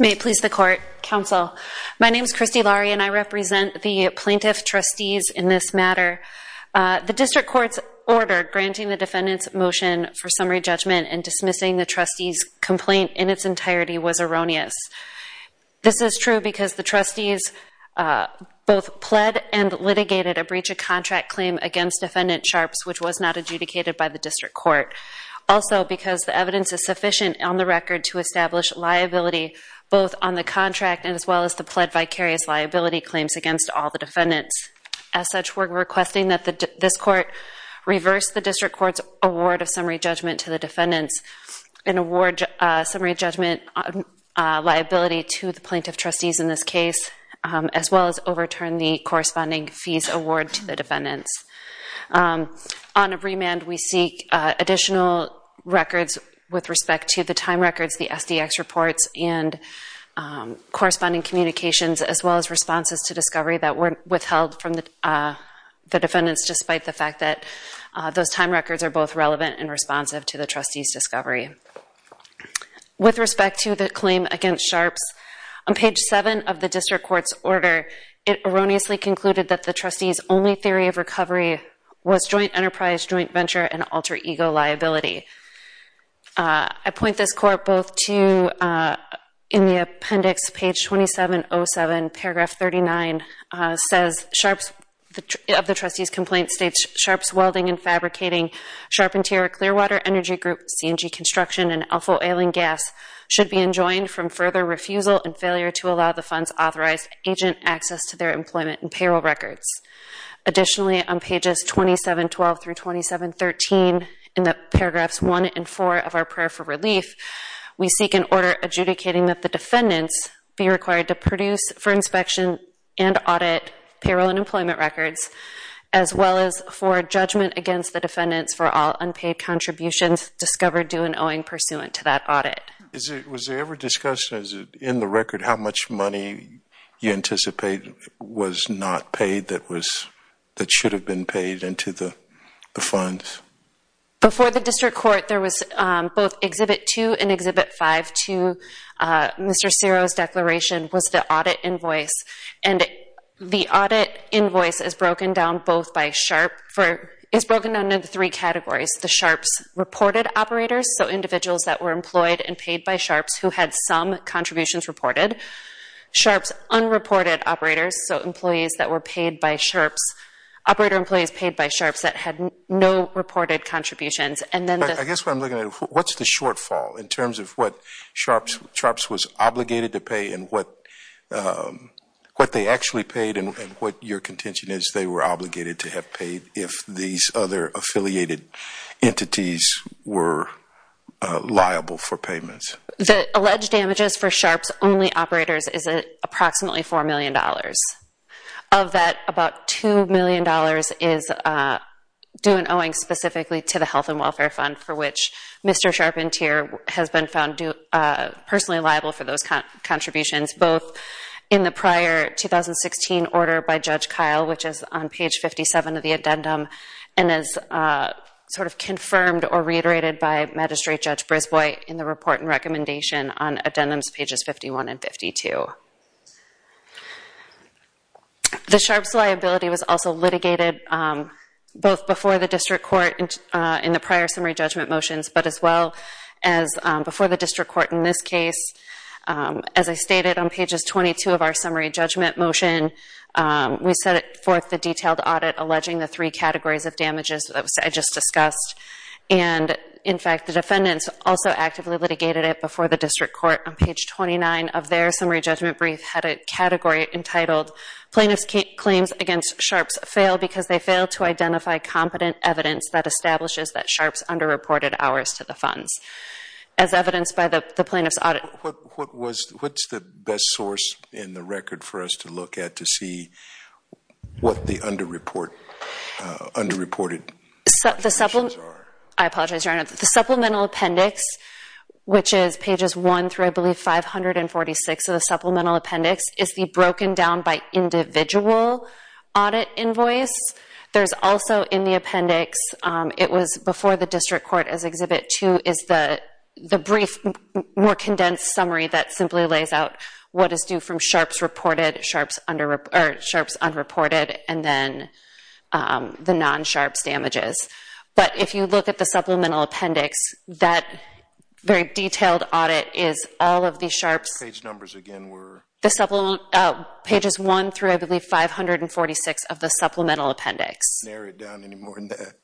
May it please the Court, Counsel. My name is Christy Lauri and I represent the Plaintiff Trustees in this matter. The District Court's order granting the defendant's motion for summary judgment and dismissing the Trustee's complaint in its entirety was erroneous. This is true because the Trustees both pled and litigated a breach of contract claim against Defendant Charps, which was not adjudicated by the District Court, also because the evidence is sufficient on the record to establish liability both on the contract and as well as the pled vicarious liability claims against all the defendants. As such, we are requesting that this Court reverse the District Court's award of summary judgment liability to the Plaintiff Trustees in this case as well as overturn the corresponding fees award to the defendants. On a remand, we seek additional records with respect to the time records, the SDX reports, and corresponding communications as well as responses to discovery that were withheld from the defendants despite the fact that those time records are both relevant and responsive to the Trustees' discovery. With respect to the claim against Sharps, on page 7 of the District Court's order, it erroneously concluded that the Trustees' only theory of recovery was joint enterprise, joint venture, and alter ego liability. I point this Court both to, in the appendix, page 2707, paragraph 39, says, Sharps, of the Trustees' complaint states, Sharps Welding and Fabricating, Sharpentier Clearwater Energy Group, C&G Construction, and Alpha Oil and Gas should be enjoined from further refusal and failure to allow the funds authorized agent access to their employment and payroll records. Additionally, on pages 2712 through 2713 in the paragraphs 1 and 4 of our prayer for relief, we seek an order adjudicating that the defendants be required to produce for inspection and audit payroll and employment records as well as for judgment against the defendants for all unpaid contributions discovered due and owing pursuant to that audit. Was there ever discussion, in the record, how much money you anticipate was not paid that should have been paid into the funds? Before the District Court, there was both Exhibit 2 and Exhibit 5 to Mr. Ciro's declaration was the audit invoice. The audit invoice is broken down into three categories. The Sharps reported operators, so individuals that were employed and paid by Sharps who had some contributions reported. Sharps unreported operators, so employees that were paid by Sharps, operator employees paid by Sharps that had no reported contributions. I guess what I'm looking at, what's the shortfall in terms of what Sharps was obligated to pay and what they actually paid and what your contention is they were obligated to have paid if these other affiliated entities were liable for payments? The alleged damages for Sharps-only operators is approximately $4 million. Of that, about $2 million is due and owing specifically to the Health and Welfare Fund for which Mr. Sharpentier has been found personally liable for those contributions, both in the prior 2016 order by Judge Kyle, which is on page 57 of the addendum, and is sort of confirmed or reiterated by Magistrate Judge Brisbois in the report and recommendation on addendums pages 51 and 52. The Sharps liability was also litigated both before the District Court in the prior summary judgment motions, but as well as before the District Court in this case. As I stated on pages 22 of our summary judgment motion, we set forth the detailed audit alleging the three categories of damages that I just discussed, and in fact, the defendants also actively litigated it before the District Court. On page 29 of their summary judgment brief had a category entitled, Plaintiff's Claims Against Sharps Fail Because They Fail to Identify Competent Evidence that Establishes that Sharps Underreported Hours to the Funds. As evidenced by the Plaintiff's Audit... What's the best source in the record for us to look at to see what the underreported... I apologize, Your Honor. The Supplemental Appendix, which is pages 1 through I believe 546 of the Supplemental Appendix, is the broken down by individual audit invoice. There's also in the appendix, it was before the District Court as Exhibit 2, is the brief, more condensed summary that simply lays out what is due from sharps reported, sharps underreported, and then the non-sharps damages. But if you look at the Supplemental Appendix, that very detailed audit is all of the sharps... Page numbers again were... Pages 1 through I believe 546 of the Supplemental Appendix. Narrow it down any more than that.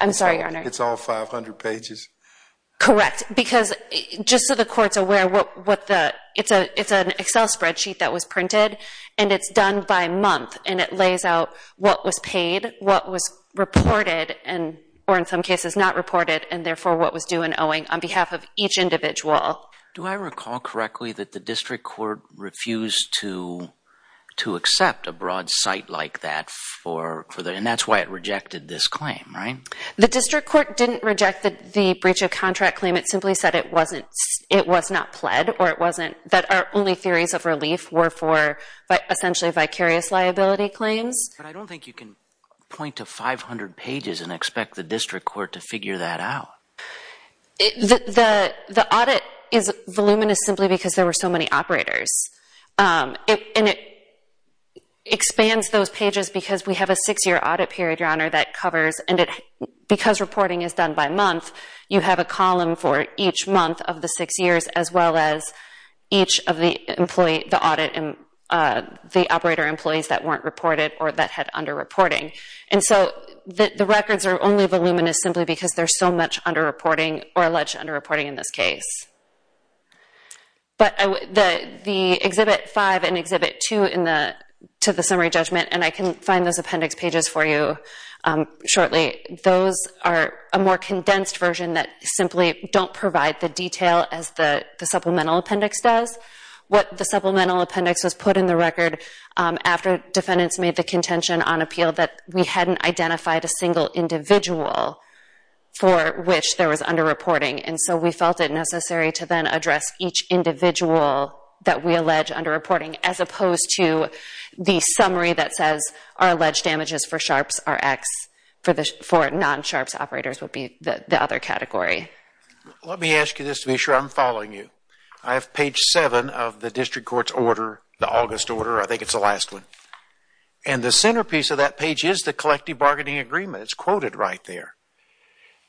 I'm sorry, Your Honor. It's all 500 pages? Correct. Because just so the Court's aware, it's an Excel spreadsheet that was printed, and it's done by month, and it lays out what was paid, what was reported, or in some cases not reported, and therefore what was due and owing on behalf of each individual. Do I recall correctly that the District Court refused to accept a broad site like that for... And that's why it rejected this claim, right? The District Court didn't reject the breach of contract claim. It simply said it wasn't... It was not pled, or it wasn't... That our only theories of relief were for essentially vicarious liability claims. But I don't think you can point to 500 pages and expect the District Court to figure that out. The audit is voluminous simply because there were so many operators. And it expands those pages because we have a six-year audit period, Your Honor, that covers... And because reporting is done by month, you have a column for each month of the six years as well as each of the operator employees that weren't reported or that had underreporting. And so the records are only voluminous simply because there's so much underreporting or alleged underreporting in this case. But the Exhibit 5 and Exhibit 2 to the Summary Judgment, and I can find those appendix pages for you shortly, those are a more condensed version that simply don't provide the detail as the supplemental appendix does. What the supplemental appendix was put in the record after defendants made the contention on appeal that we hadn't identified a single individual for which there was underreporting. And so we felt it necessary to then address each individual that we allege underreporting as opposed to the summary that says our alleged damages for sharps are X, for non-sharps operators would be the other category. Let me ask you this to be sure I'm following you. I have page 7 of the District Court's order, the August order, I think it's the last one. And the centerpiece of that page is the collective bargaining agreement. It's quoted right there.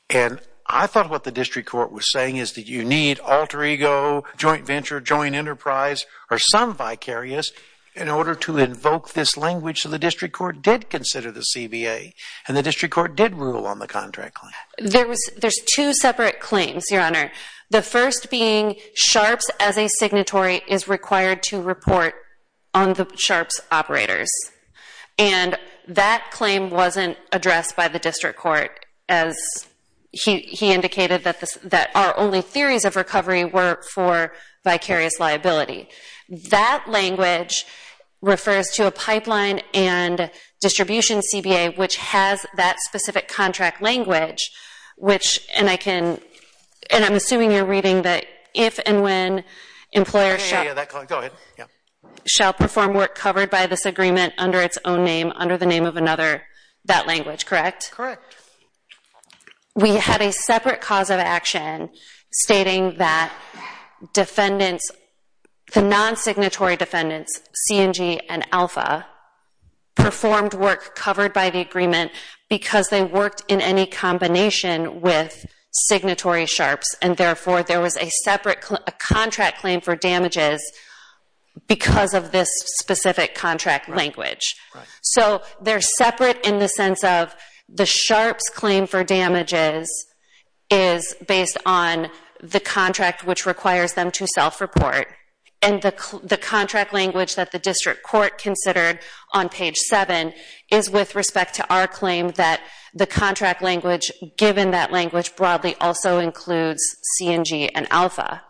And I thought what the District Court was saying is that you need alter ego, joint venture, joint enterprise, or some vicarious in order to invoke this language. So the District Court did consider the CBA and the District Court did rule on the contract claim. There's two separate claims, Your Honor. The first being sharps as a signatory is required to report on the sharps operators. And that claim wasn't addressed by the District Court as he indicated that our only theories of recovery were for vicarious liability. That language refers to a pipeline and distribution CBA which has that specific contract language which, and I can, and I'm assuming you're reading that if and when employers shall perform work covered by this agreement under its own name, under the name of another, that language, correct? Correct. We had a separate cause of action stating that defendants, the non-signatory defendants, CNG and Alpha, performed work covered by the agreement because they worked in any combination with signatory sharps. And therefore, there was a separate contract claim for damages because of this specific contract language. So they're separate in the sense of the sharps claim for damages is based on the contract which requires them to self-report. And the contract language that the District Court considered on page 7 is with respect to our claim that the contract language given that language broadly also includes CNG and Alpha.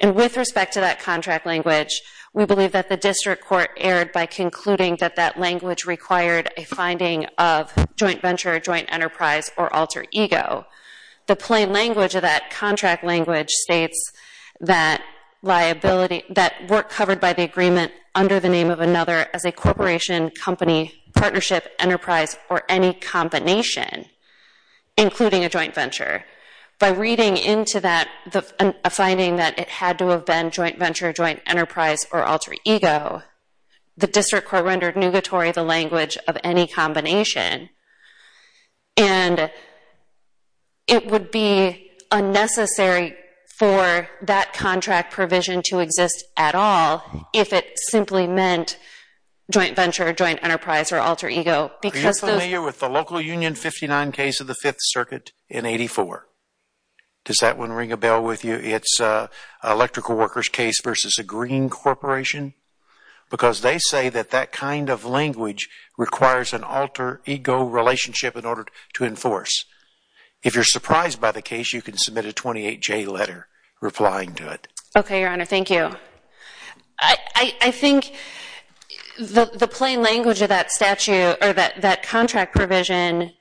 And with respect to that contract language, we believe that the District Court erred by concluding that that language required a finding of joint venture, joint enterprise, or alter ego. The plain language of that contract language states that work covered by the agreement under the name of another as a corporation, company, partnership, enterprise, or any combination, including a joint venture. By reading into that a finding that it had to have been joint venture, joint enterprise, or alter ego, the District Court rendered nugatory the language of any combination. And it would be unnecessary for that contract provision to exist at all if it simply meant joint venture, joint enterprise, or alter ego. Are you familiar with the local union 59 case of the Fifth Circuit in 84? Does that one ring a bell with you? It's an electrical workers case versus a green corporation? Because they say that that kind of language requires an alter ego relationship in order to enforce. If you're surprised by the case, you can submit a 28-J letter replying to it. Okay, Your Honor, thank you. I think the plain language of that statute or that contract provision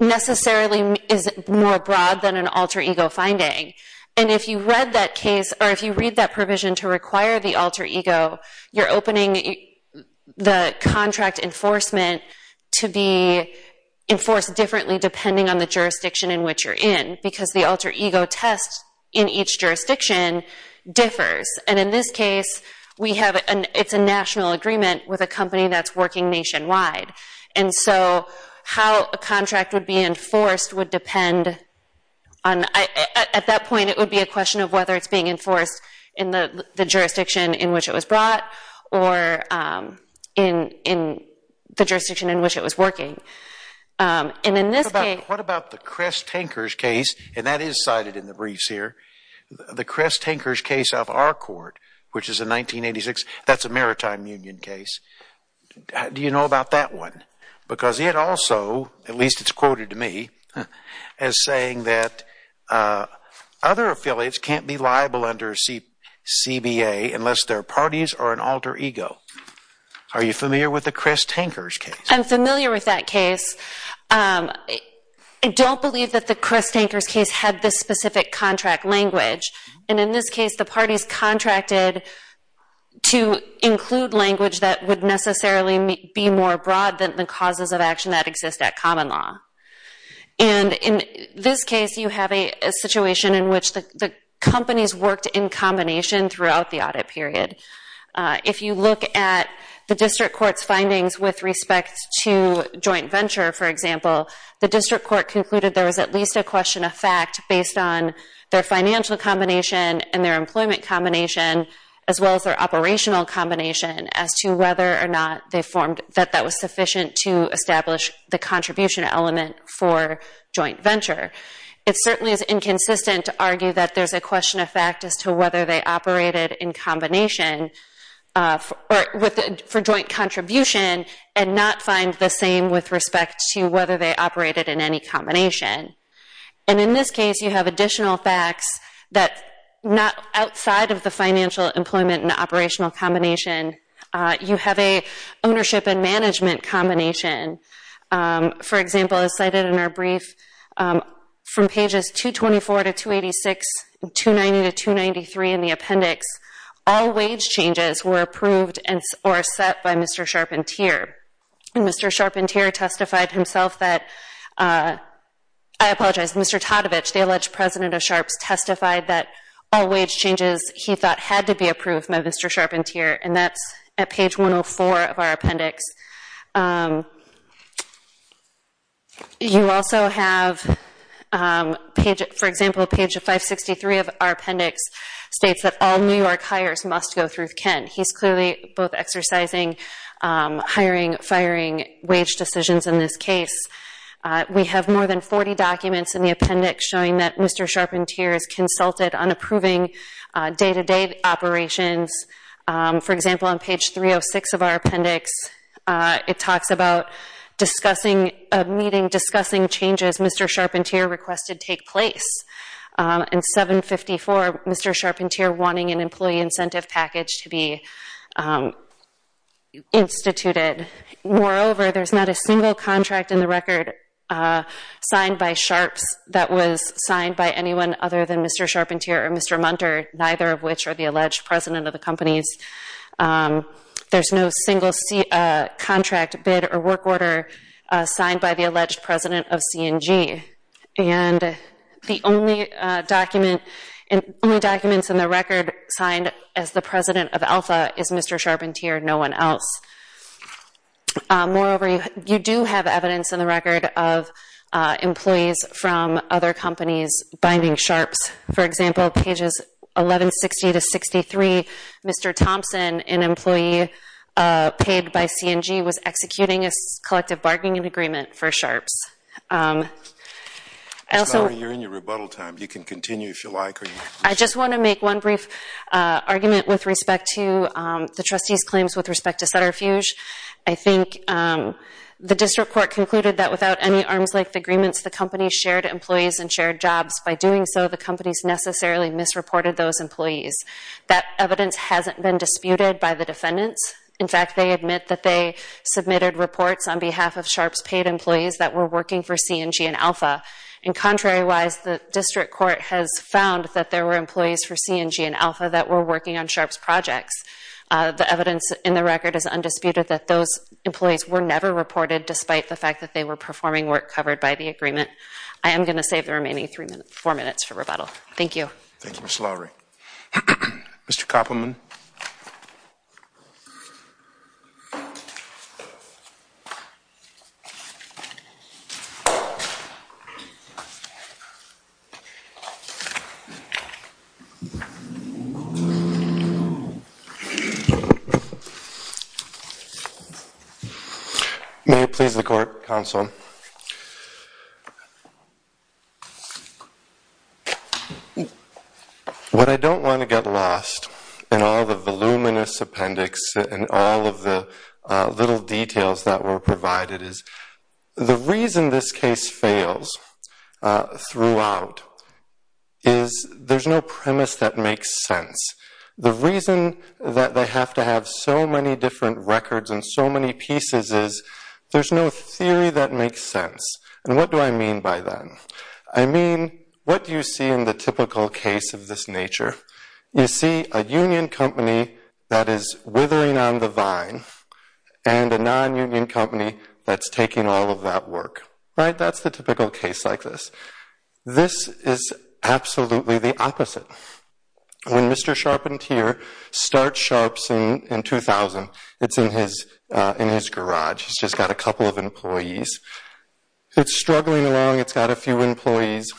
necessarily is more broad than an alter ego finding. And if you read that provision to require the alter ego, you're opening the contract enforcement to be enforced differently depending on the jurisdiction in which you're in. Because the alter ego test in each jurisdiction differs. And in this case, it's a national agreement with a company that's working nationwide. And so how a contract would be enforced would depend on, at that point, it would be a question of whether it's being enforced in the jurisdiction in which it was brought or in the jurisdiction in which it was working. And in this case... What about the Crest Tankers case? And that is cited in the briefs here. The Crest Tankers case of our court, which is in 1986, that's a maritime union case. Do you know about that one? Because it also, at least it's quoted to me, as saying that other affiliates can't be liable under CBA unless their parties are an alter ego. Are you familiar with the Crest Tankers case? I'm familiar with that case. I don't believe that the Crest Tankers case had this specific contract language. And in this case, the parties contracted to include language that would necessarily be more broad than the causes of action that exist at common law. And in this case, you have a situation in which the companies worked in combination throughout the audit period. If you look at the district court's findings with respect to joint venture, for example, the district court concluded there was at least a question of fact based on their financial combination and their employment combination, as well as their operational combination, as to whether or not they formed, that that was sufficient to establish the contribution element for joint venture. It certainly is inconsistent to argue that there's a question of fact as to whether they operated in combination for joint contribution and not find the same with respect to whether they operated in any combination. And in this case, you have additional facts that not outside of the financial employment and operational combination, you have a ownership and management combination. For example, as cited in our brief, from pages 224 to 286, 290 to 293 in the appendix, all wage changes were approved or set by Mr. Charpentier. And Mr. Charpentier testified himself that, I apologize, Mr. Todovich, the alleged president of Sharps, testified that all wage changes he thought had to be approved by Mr. Charpentier, and that's at page 104 of our appendix. You also have, for example, page 563 of our appendix states that all New York hires must go through Kent. He's clearly both exercising hiring, firing wage decisions in this case. We have more than 40 documents in the appendix showing that Mr. Charpentier has consulted on approving day-to-day operations. For example, on page 306 of our appendix, it talks about discussing a meeting, discussing changes Mr. Charpentier requested take place. In 754, Mr. Charpentier wanting an employee incentive package to be instituted. Moreover, there's not a single contract in the record signed by Sharps that was signed by anyone other than Mr. Charpentier or Mr. Munter, neither of which are the alleged president of the companies. There's no single contract, bid, or work order signed by the alleged president of C&G. And the only document in the record signed as the president of Alpha is Mr. Charpentier, no one else. Moreover, you do have evidence in the record of employees from other companies binding Sharps. For example, pages 1160 to 63, Mr. Thompson, an employee paid by C&G, was executing a collective bargaining agreement for Sharps. Ms. Lowery, you're in your rebuttal time. You can continue if you like. I just want to make one brief argument with respect to the trustee's claims with respect to Sutterfuge. I think the district court concluded that without any arms-length agreements, the companies shared employees and shared jobs. By doing so, the companies necessarily misreported those employees. That evidence hasn't been disputed by the defendants. In fact, they admit that they submitted reports on behalf of Sharps' paid employees that were working for C&G and Alpha. And contrary-wise, the district court has found that there were employees for C&G and Alpha that were working on Sharps' projects. The evidence in the record is undisputed that those employees were never reported despite the fact that they were performing work covered by the agreement. I am going to save the remaining four minutes for rebuttal. Thank you. Thank you, Ms. Lowery. Mr. Koppelman. May it please the court, counsel. What I don't want to get lost in all the voluminous appendix and all of the little details that were provided is the reason this case fails throughout is there's no premise that makes sense. The reason that they have to have so many different records and so many pieces is there's no theory that makes sense. And what do I mean by that? I mean, what do you see in the typical case of this nature? You see a union company that is withering on the vine and a non-union company that's taking all of that work. Right? That's the typical case like this. This is absolutely the opposite. When Mr. Sharpentier starts Sharps in 2000, it's in his garage, he's just got a couple of employees. It's struggling along, it's got a few employees.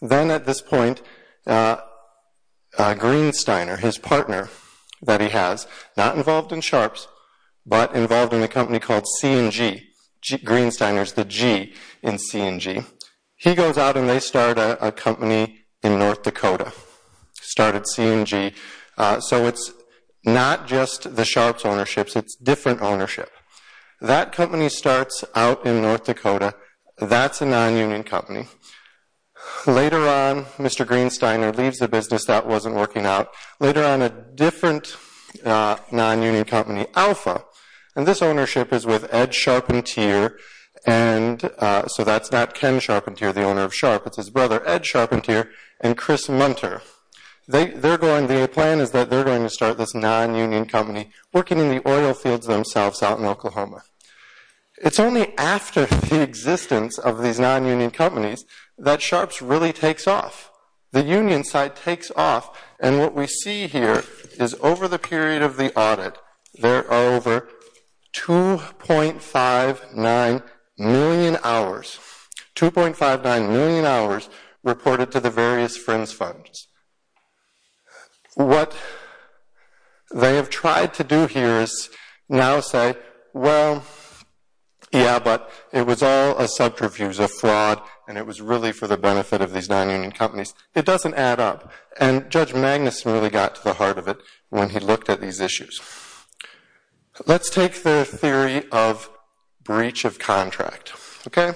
Then at this point, Greensteiner, his partner that he has, not involved in Sharps, but involved in a company called C&G, Greensteiner's the G in C&G. He goes out and they start a company in North Dakota, started C&G. So it's not just the Sharps ownership, it's different ownership. That company starts out in North Dakota. That's a non-union company. Later on, Mr. Greensteiner leaves the business, that wasn't working out. Later on, a different non-union company, Alpha, and this ownership is with Ed Sharpentier. So that's not Ken Sharpentier, the owner of Sharp, it's his brother Ed Sharpentier and Chris Munter. The plan is that they're going to start this non-union company working in the oil fields themselves out in Oklahoma. It's only after the existence of these non-union companies that Sharps really takes off. The union side takes off, and what we see here is over the period of the audit, there are over 2.59 million hours, 2.59 million hours reported to the various Friends Funds. What they have tried to do here is now say, well, yeah, but it was all a subterfuge, a fraud, and it was really for the benefit of these non-union companies. It doesn't add up. And Judge Magnuson really got to the heart of it when he looked at these issues. Let's take the theory of breach of contract, okay?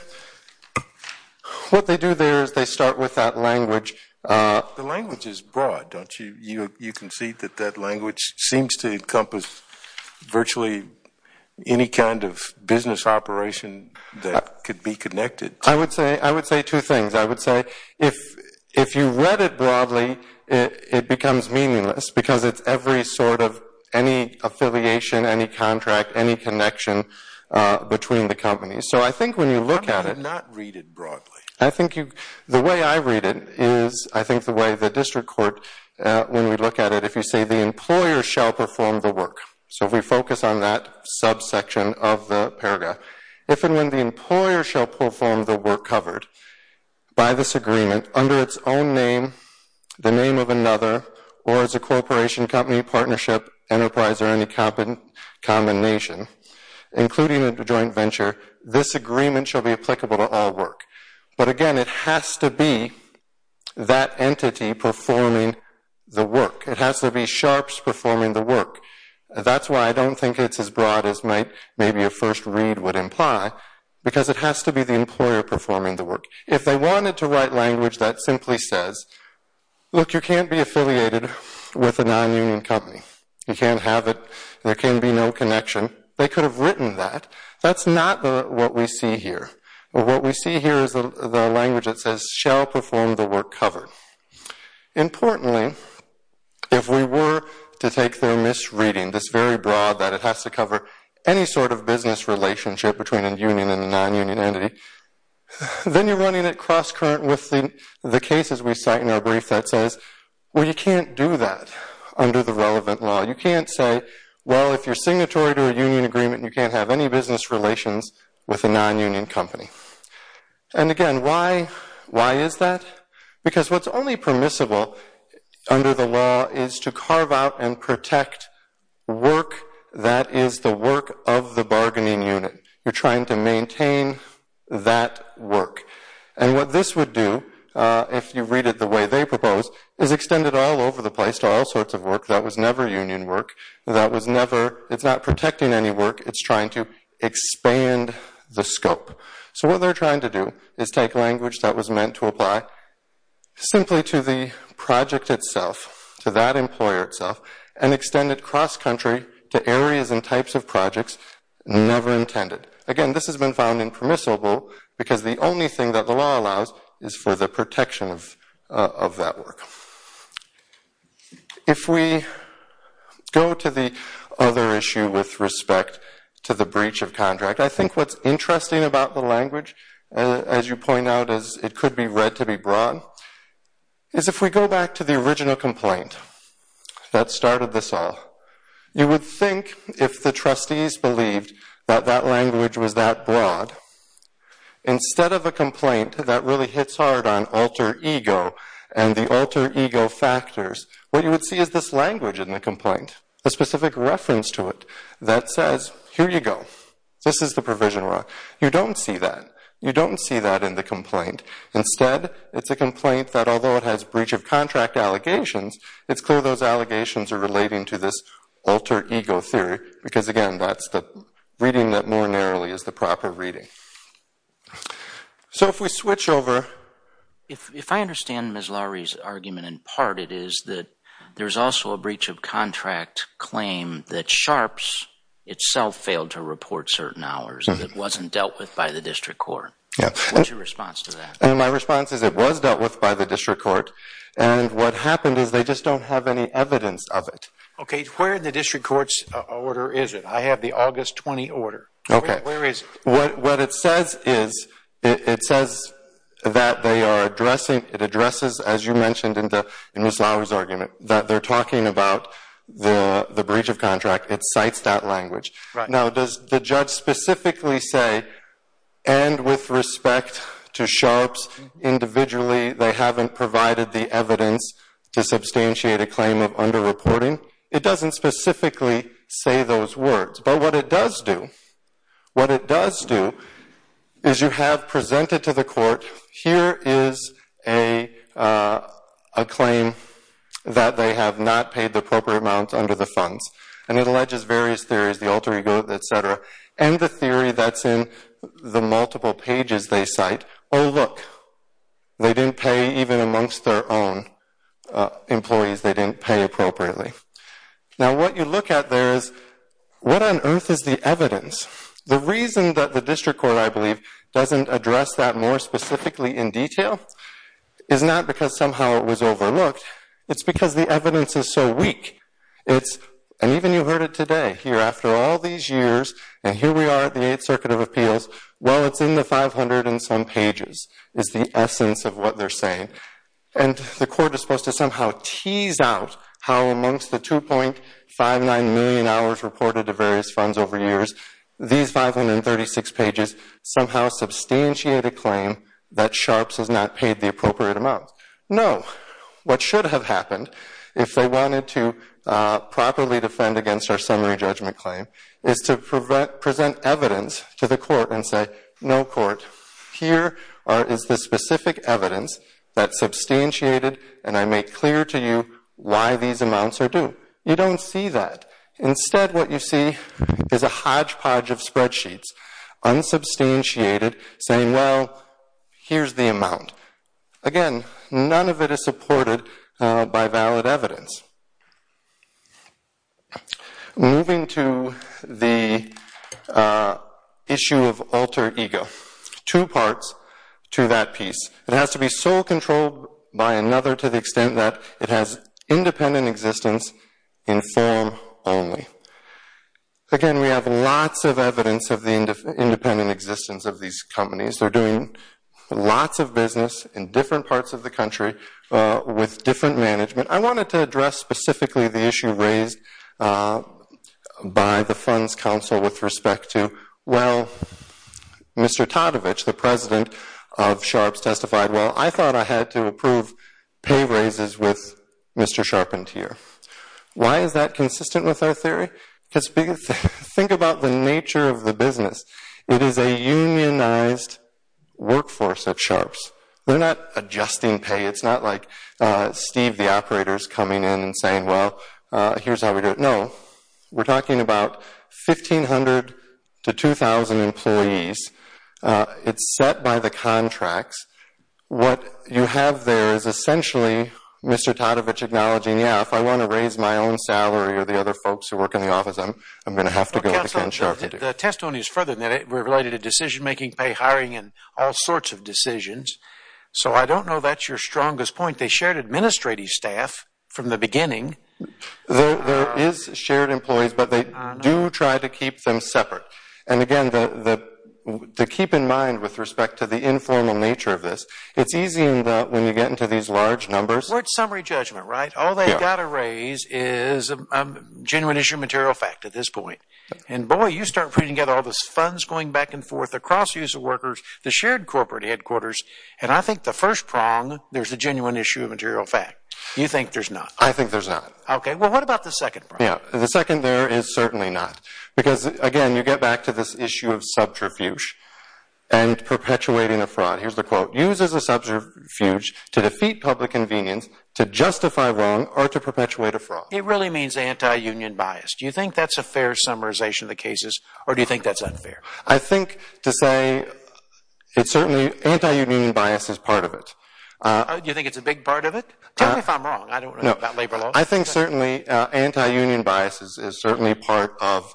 What they do there is they start with that language. The language is broad, don't you? You can see that that language seems to encompass virtually any kind of business operation that could be connected. I would say two things. I would say if you read it broadly, it becomes meaningless because it's every sort of any affiliation, any contract, any connection between the companies. So I think when you look at it. How about you not read it broadly? I think the way I read it is I think the way the district court, when we look at it, if you say the employer shall perform the work. So if we focus on that subsection of the perga, if and when the employer shall perform the work covered by this agreement under its own name, the name of another, or as a corporation, company, partnership, enterprise, or any combination, including a joint venture, this agreement shall be applicable to all work. But again, it has to be that entity performing the work. It has to be sharps performing the work. That's why I don't think it's as broad as maybe a first read would imply because it has to be the employer performing the work. If they wanted to write language that simply says, look, you can't be affiliated with a non-union company. You can't have it. There can be no connection. They could have written that. That's not what we see here. What we see here is the language that says shall perform the work covered. Importantly, if we were to take their misreading, this very broad that it has to cover any sort of business relationship between a union and a non-union entity, then you're running it cross-current with the cases we cite in our brief that says, well, you can't do that under the relevant law. You can't say, well, if you're signatory to a union agreement, you can't have any business relations with a non-union company. And again, why is that? Because what's only permissible under the law is to carve out and protect work that is the work of the bargaining unit. You're trying to maintain that work. And what this would do, if you read it the way they propose, is extend it all over the work. That was never union work. That was never, it's not protecting any work. It's trying to expand the scope. So what they're trying to do is take language that was meant to apply simply to the project itself, to that employer itself, and extend it cross-country to areas and types of projects never intended. Again, this has been found impermissible because the only thing that the law allows is for the protection of that work. Now, if we go to the other issue with respect to the breach of contract, I think what's interesting about the language, as you point out, is it could be read to be broad, is if we go back to the original complaint that started this all, you would think if the trustees believed that that language was that broad, instead of a complaint that really hits hard on alter ego and the alter ego factors, what you would see is this language in the complaint, the specific reference to it, that says, here you go, this is the provision. You don't see that. You don't see that in the complaint. Instead, it's a complaint that although it has breach of contract allegations, it's clear those allegations are relating to this alter ego theory, because again, that's the reading that more narrowly is the proper reading. So, if we switch over. If I understand Ms. Lowry's argument in part, it is that there's also a breach of contract claim that Sharpe's itself failed to report certain hours, that it wasn't dealt with by the district court. What's your response to that? My response is it was dealt with by the district court, and what happened is they just don't have any evidence of it. Okay, where in the district court's order is it? I have the August 20 order. Where is it? What it says is, it says that they are addressing, it addresses, as you mentioned in Ms. Lowry's argument, that they're talking about the breach of contract. It cites that language. Now, does the judge specifically say, and with respect to Sharpe's, individually they haven't provided the evidence to substantiate a claim of under-reporting? It doesn't specifically say those words, but what it does do. What it does do is you have presented to the court, here is a claim that they have not paid the appropriate amount under the funds. And it alleges various theories, the alter ego, etc., and the theory that's in the multiple pages they cite, oh look, they didn't pay even amongst their own employees, they didn't pay appropriately. Now, what you look at there is, what on earth is the evidence? The reason that the district court, I believe, doesn't address that more specifically in detail is not because somehow it was overlooked. It's because the evidence is so weak, it's, and even you heard it today, here after all these years, and here we are at the 8th Circuit of Appeals, well it's in the 500 and some pages, is the essence of what they're saying. And the court is supposed to somehow tease out how amongst the 2.59 million hours reported to various funds over years, these 536 pages somehow substantiate a claim that Sharps has not paid the appropriate amount. No. What should have happened, if they wanted to properly defend against our summary judgment claim, is to present evidence to the court and say, no court, here is the specific evidence that substantiated, and I make clear to you why these amounts are due. You don't see that. Instead, what you see is a hodgepodge of spreadsheets, unsubstantiated, saying, well, here's the amount. Again, none of it is supported by valid evidence. Moving to the issue of alter ego. Two parts to that piece. It has to be sole controlled by another to the extent that it has independent existence in form only. Again, we have lots of evidence of the independent existence of these companies. They're doing lots of business in different parts of the country with different management. I wanted to address specifically the issue raised by the Funds Council with respect to, well, Mr. Todovich, the president of Sharps, testified, well, I thought I had to approve pay raises with Mr. Sharpened here. Why is that consistent with our theory? Think about the nature of the business. It is a unionized workforce at Sharps. They're not adjusting pay. It's not like Steve, the operator, is coming in and saying, well, here's how we do it. No. We're talking about 1,500 to 2,000 employees. It's set by the contracts. What you have there is essentially Mr. Todovich acknowledging, yeah, if I want to raise my own salary or the other folks who work in the office, I'm going to have to go to Ken Sharp. The testimony is further than that. We're related to decision making, pay hiring, and all sorts of decisions. So I don't know that's your strongest point. They shared administrative staff from the beginning. There is shared employees, but they do try to keep them separate. And again, to keep in mind with respect to the informal nature of this, it's easy when you get into these large numbers. Well, it's summary judgment, right? All they've got to raise is a genuine issue of material fact at this point. And boy, you start putting together all this funds going back and forth across the use of workers, the shared corporate headquarters, and I think the first prong, there's a genuine issue of material fact. You think there's not? I think there's not. Okay. Well, what about the second prong? Yeah. The second there is certainly not. Because again, you get back to this issue of subterfuge and perpetuating a fraud. Here's the quote. Use as a subterfuge to defeat public convenience, to justify wrong, or to perpetuate a fraud. It really means anti-union bias. Do you think that's a fair summarization of the cases, or do you think that's unfair? I think to say it's certainly anti-union bias is part of it. You think it's a big part of it? Tell me if I'm wrong. I don't know about labor law. I think certainly anti-union bias is certainly part of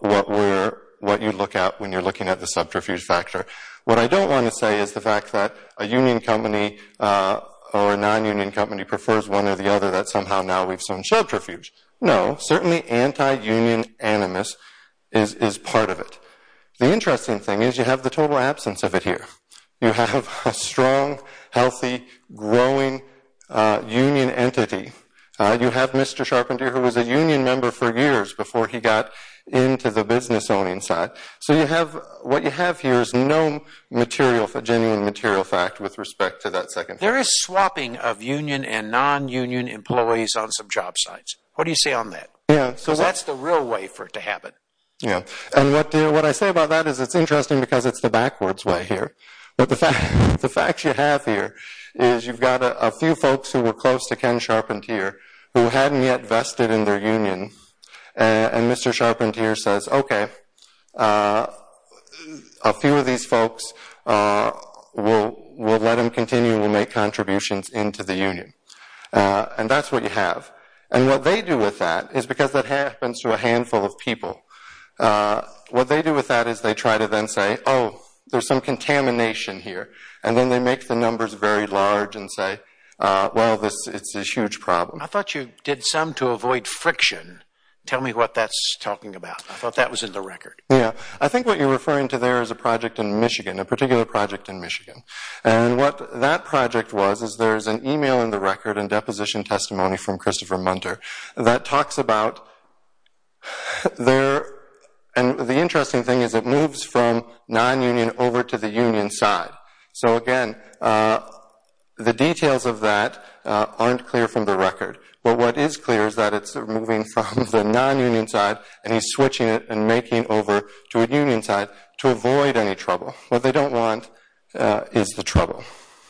what you look at when you're looking at the subterfuge factor. What I don't want to say is the fact that a union company or a non-union company prefers one or the other that somehow now we've shown subterfuge. No, certainly anti-union animus is part of it. The interesting thing is you have the total absence of it here. You have a strong, healthy, growing union entity. You have Mr. Sharpentier who was a union member for years before he got into the business owning side. What you have here is no genuine material fact with respect to that second point. There is swapping of union and non-union employees on some job sites. What do you say on that? That's the real way for it to happen. What I say about that is it's interesting because it's the backwards way here. The fact you have here is you've got a few folks who were close to Ken Sharpentier who hadn't yet vested in their union. Mr. Sharpentier says, okay, a few of these folks, we'll let them continue and we'll make contributions into the union. That's what you have. What they do with that is because that happens to a handful of people, what they do with that is they try to then say, oh, there's some contamination here. Then they make the numbers very large and say, well, it's a huge problem. I thought you did some to avoid friction. Tell me what that's talking about. I thought that was in the record. I think what you're referring to there is a project in Michigan, a particular project in Michigan. What that project was is there's an email in the record and deposition testimony from Christopher Munter that talks about there and the interesting thing is it moves from non-union over to the union side. Again, the details of that aren't clear from the record. What is clear is that it's moving from the non-union side and he's switching it and making over to a union side to avoid any trouble. What they don't want is the trouble.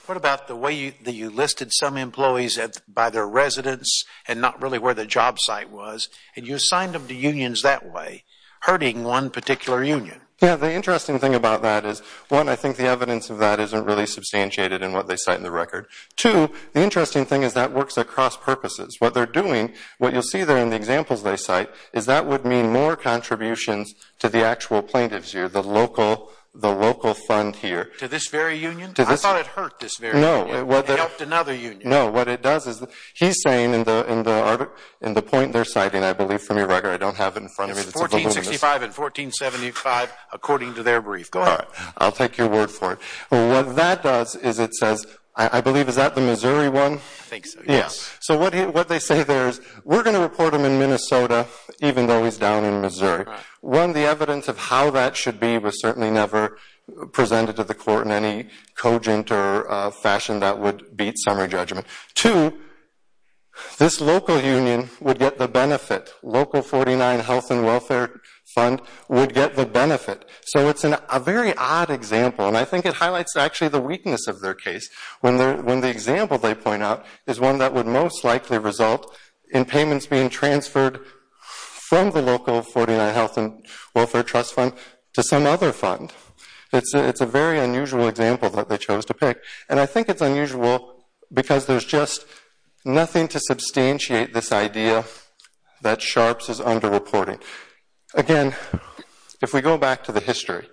What about the way that you listed some employees by their residence and not really where the job site was and you assigned them to unions that way, hurting one particular union? The interesting thing about that is, one, I think the evidence of that isn't really substantiated in what they cite in the record. Two, the interesting thing is that works across purposes. What they're doing, what you'll see there in the examples they cite, is that would mean more contributions to the actual plaintiffs here, the local fund here. To this very union? I thought it hurt this very union. No. It helped another union. No. What it does is, he's saying in the point they're citing, I believe from your record, I don't have it in front of me. It's 1465 and 1475 according to their brief. Go ahead. I'll take your word for it. What that does is it says, I believe, is that the Missouri one? I think so. Yes. What they say there is, we're going to report him in Minnesota even though he's down in Missouri. One, the evidence of how that should be was certainly never presented to the court in any cogent or fashion that would beat summary judgment. Two, this local union would get the benefit. Local 49 Health and Welfare Fund would get the benefit. It's a very odd example. I think it highlights actually the weakness of their case. When the example they point out is one that would most likely result in payments being transferred from the local 49 Health and Welfare Trust Fund to some other fund. It's a very unusual example that they chose to pick. I think it's unusual because there's just nothing to substantiate this idea that Sharps is under-reporting. Again, if we go back to the history,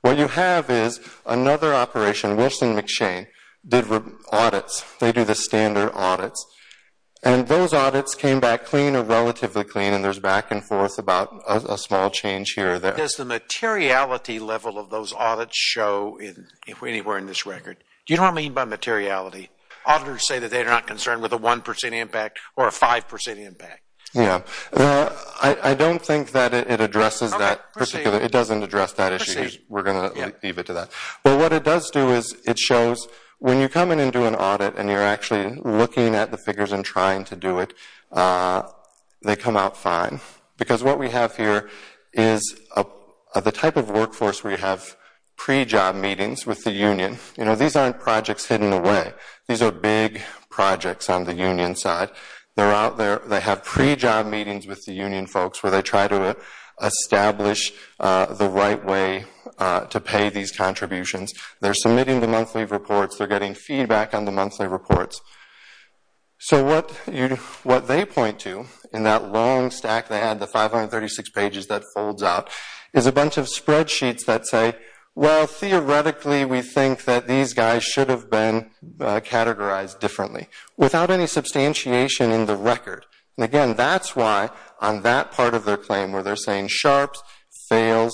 what you have is another operation, Wilson McShane, did audits. They do the standard audits. Those audits came back clean or relatively clean and there's back and forth about a small change here or there. What does the materiality level of those audits show anywhere in this record? Do you know what I mean by materiality? Auditors say that they're not concerned with a 1% impact or a 5% impact. I don't think that it addresses that particularly. It doesn't address that issue. We're going to leave it to that. What it does do is it shows when you come in and do an audit and you're actually looking at the figures and trying to do it, they come out fine. What we have here is the type of workforce where you have pre-job meetings with the union. These aren't projects hidden away. These are big projects on the union side. They have pre-job meetings with the union folks where they try to establish the right way to pay these contributions. They're submitting the monthly reports. They're getting feedback on the monthly reports. What they point to in that long stack they had, the 536 pages that folds out, is a bunch of spreadsheets that say, well, theoretically we think that these guys should have been categorized differently without any substantiation in the record. Again, that's why on that part of their claim where they're saying Sharpe's failed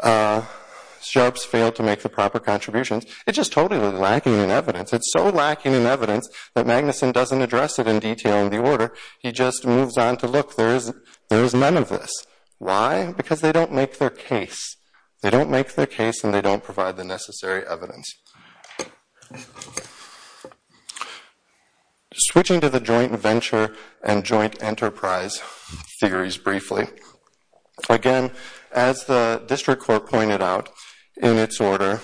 to make the proper contributions, it's just totally lacking in evidence. It's so lacking in evidence that Magnuson doesn't address it in detail in the order. He just moves on to, look, there's none of this. Why? Because they don't make their case. They don't make their case and they don't provide the necessary evidence. Switching to the joint venture and joint enterprise theories briefly. Again, as the district court pointed out in its order,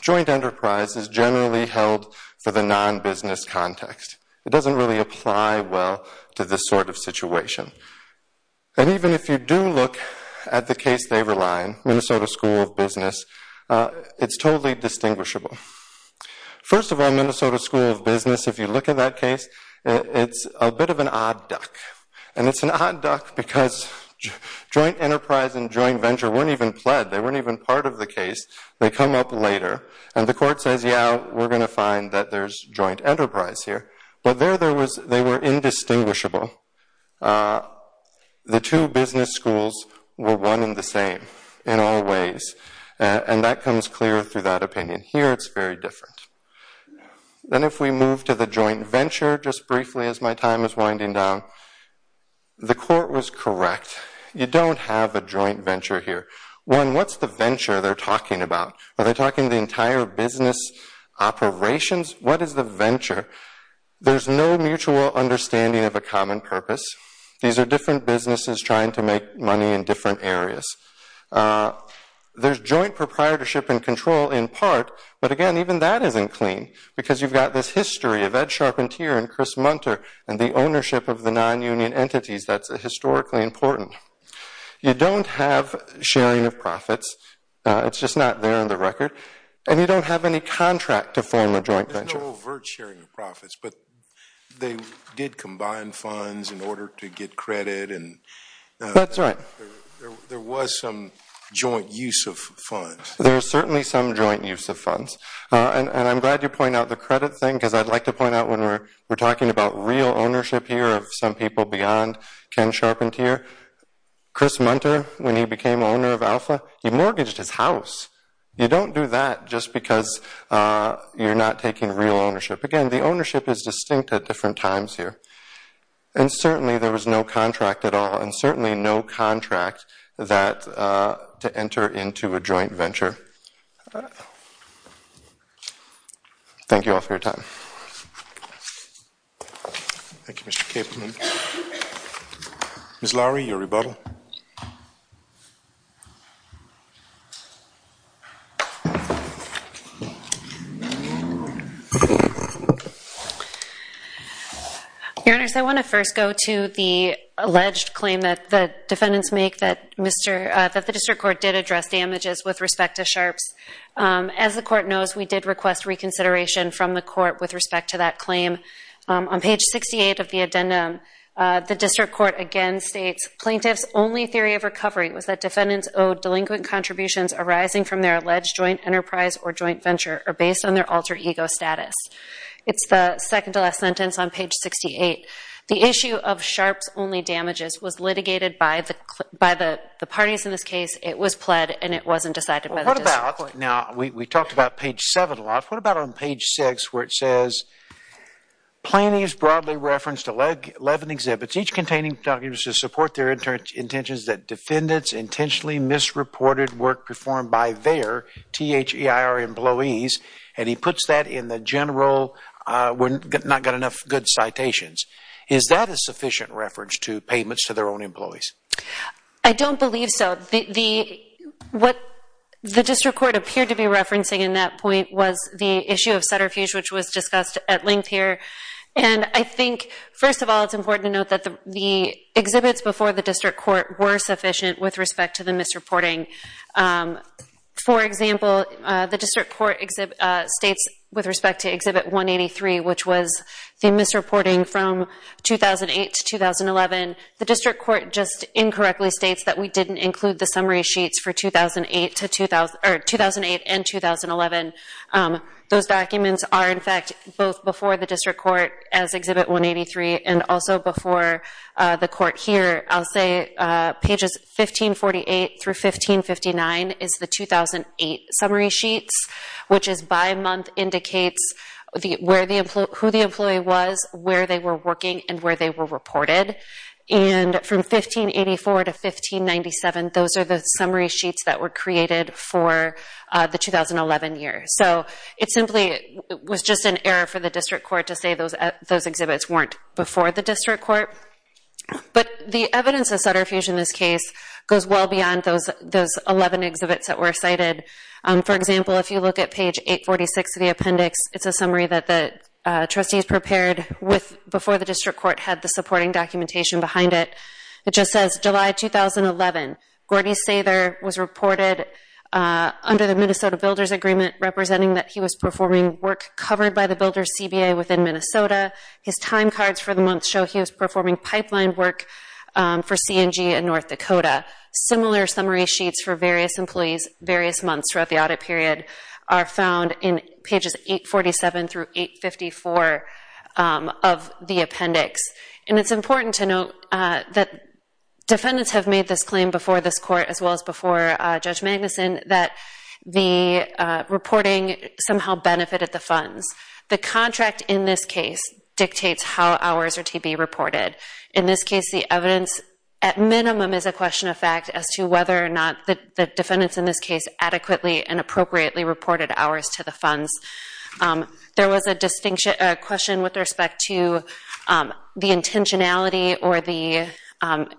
joint enterprise is generally held for the non-business context. It doesn't really apply well to this sort of situation. Even if you do look at the case they rely on, Minnesota School of Business, it's totally distinguishable. First of all, Minnesota School of Business, if you look at that case, it's a bit of an odd duck. It's an odd duck because joint enterprise and joint venture weren't even pled. They weren't even part of the case. They come up later and the court says, yeah, we're going to find that there's joint enterprise here. But there they were indistinguishable. The two business schools were one and the same in all ways. That comes clear through that opinion. Here it's very different. Then if we move to the joint venture, just briefly as my time is winding down, the court was correct. You don't have a joint venture here. One, what's the venture they're talking about? Are they talking the entire business operations? What is the venture? There's no mutual understanding of a common purpose. These are different businesses trying to make money in different areas. There's joint proprietorship and control in part, but again, even that isn't clean because you've got this history of Ed Sharpentier and Chris Munter and the ownership of the non-union entities that's historically important. You don't have sharing of profits. It's just not there on the record. And you don't have any contract to form a joint venture. There's no overt sharing of profits, but they did combine funds in order to get credit. That's right. There was some joint use of funds. There's certainly some joint use of funds. And I'm glad you point out the credit thing because I'd like to point out when we're talking about real ownership here of some people beyond Ken Sharpentier, Chris Munter, when he became owner of Alpha, he mortgaged his house. You don't do that just because you're not taking real ownership. Again, the ownership is distinct at different times here. And certainly, there was no contract at all, and certainly no contract to enter into a joint venture. Thank you all for your time. Thank you, Mr. Capelman. Ms. Lowry, your rebuttal. Your Honors, I want to first go to the alleged claim that the defendants make that the district court did address damages with respect to Sharpe's. As the court knows, we did request reconsideration from the court with respect to that claim. On page 68 of the addendum, the district court again states, plaintiff's only theory of recovery was that defendants owed delinquent contributions arising from their alleged joint enterprise or joint venture are based on their alter ego status. It's the second to last sentence on page 68. The issue of Sharpe's only damages was litigated by the parties in this case. It was pled, and it wasn't decided by the district court. Now, we talked about page 7 a lot. What about on page 6, where it says, plaintiff's broadly referenced 11 exhibits, each containing documents to support their intentions that defendants intentionally misreported work performed by their, T-H-E-I-R, employees. And he puts that in the general, we're not getting enough good citations. Is that a sufficient reference to payments to their own employees? I don't believe so. What the district court appeared to be referencing in that point was the issue of Sutterfuge, which was discussed at length here. And I think, first of all, it's important to note that the exhibits before the district court were sufficient with respect to the misreporting. For example, the district court states, with respect to exhibit 183, which was the misreporting from 2008 to 2011, the district court just incorrectly states that we didn't include the summary sheets for 2008 and 2011. Those documents are, in fact, both before the district court as exhibit 183, and also before the court here. I'll say pages 1548 through 1559 is the 2008 summary sheets, which is by month indicates who the employee was, where they were working, and where they were reported. And from 1584 to 1597, those are the summary sheets that were created for the 2011 year. So it simply was just an error for the district court to say those exhibits weren't before the district court. But the evidence of Sutterfuge in this case goes well beyond those 11 exhibits that were cited. For example, if you look at page 846 of the appendix, it's a summary that the trustees prepared before the district court had the supporting documentation behind it. It just says, July 2011, Gordy Sather was reported under the Minnesota Builders Agreement representing that he was performing work covered by the Builders CBA within Minnesota. His time cards for the month show he was performing pipeline work for CNG in North Dakota. Similar summary sheets for various employees, various months throughout the audit period, are found in pages 847 through 854 of the appendix. And it's important to note that defendants have made this claim before this court, as well as before Judge Magnuson, that the reporting somehow benefited the funds. The contract in this case dictates how hours are to be reported. In this case, the evidence, at minimum, is a question of fact as to whether or not the defendants in this case adequately and appropriately reported hours to the funds. There was a question with respect to the intentionality or the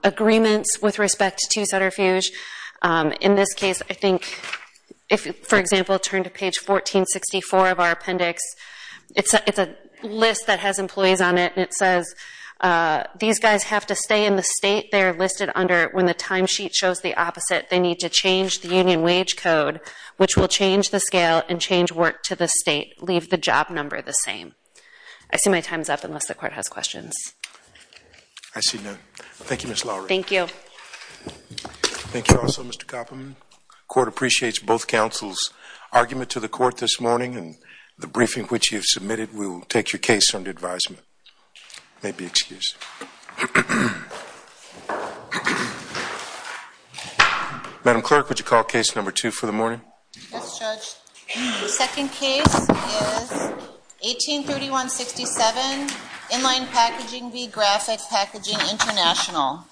agreements with respect to Sutterfuge. In this case, I think, if, for example, turn to page 1464 of our appendix, it's a list that has employees on it, and it says, these guys have to stay in the state they're listed under when the timesheet shows the opposite. They need to change the union wage code, which will change the scale and change work to the state, leave the job number the same. I see my time's up, unless the court has questions. I see none. Thank you, Ms. Lowry. Thank you. Thank you also, Mr. Koppelman. Court appreciates both counsel's argument to the court this morning, and the briefing which you have submitted will take your case under advisement. May be excused. Madam Clerk, would you call case number two for the morning? Yes, Judge. Second case is 1831-67, Inline Packaging v. Graphic Packaging International.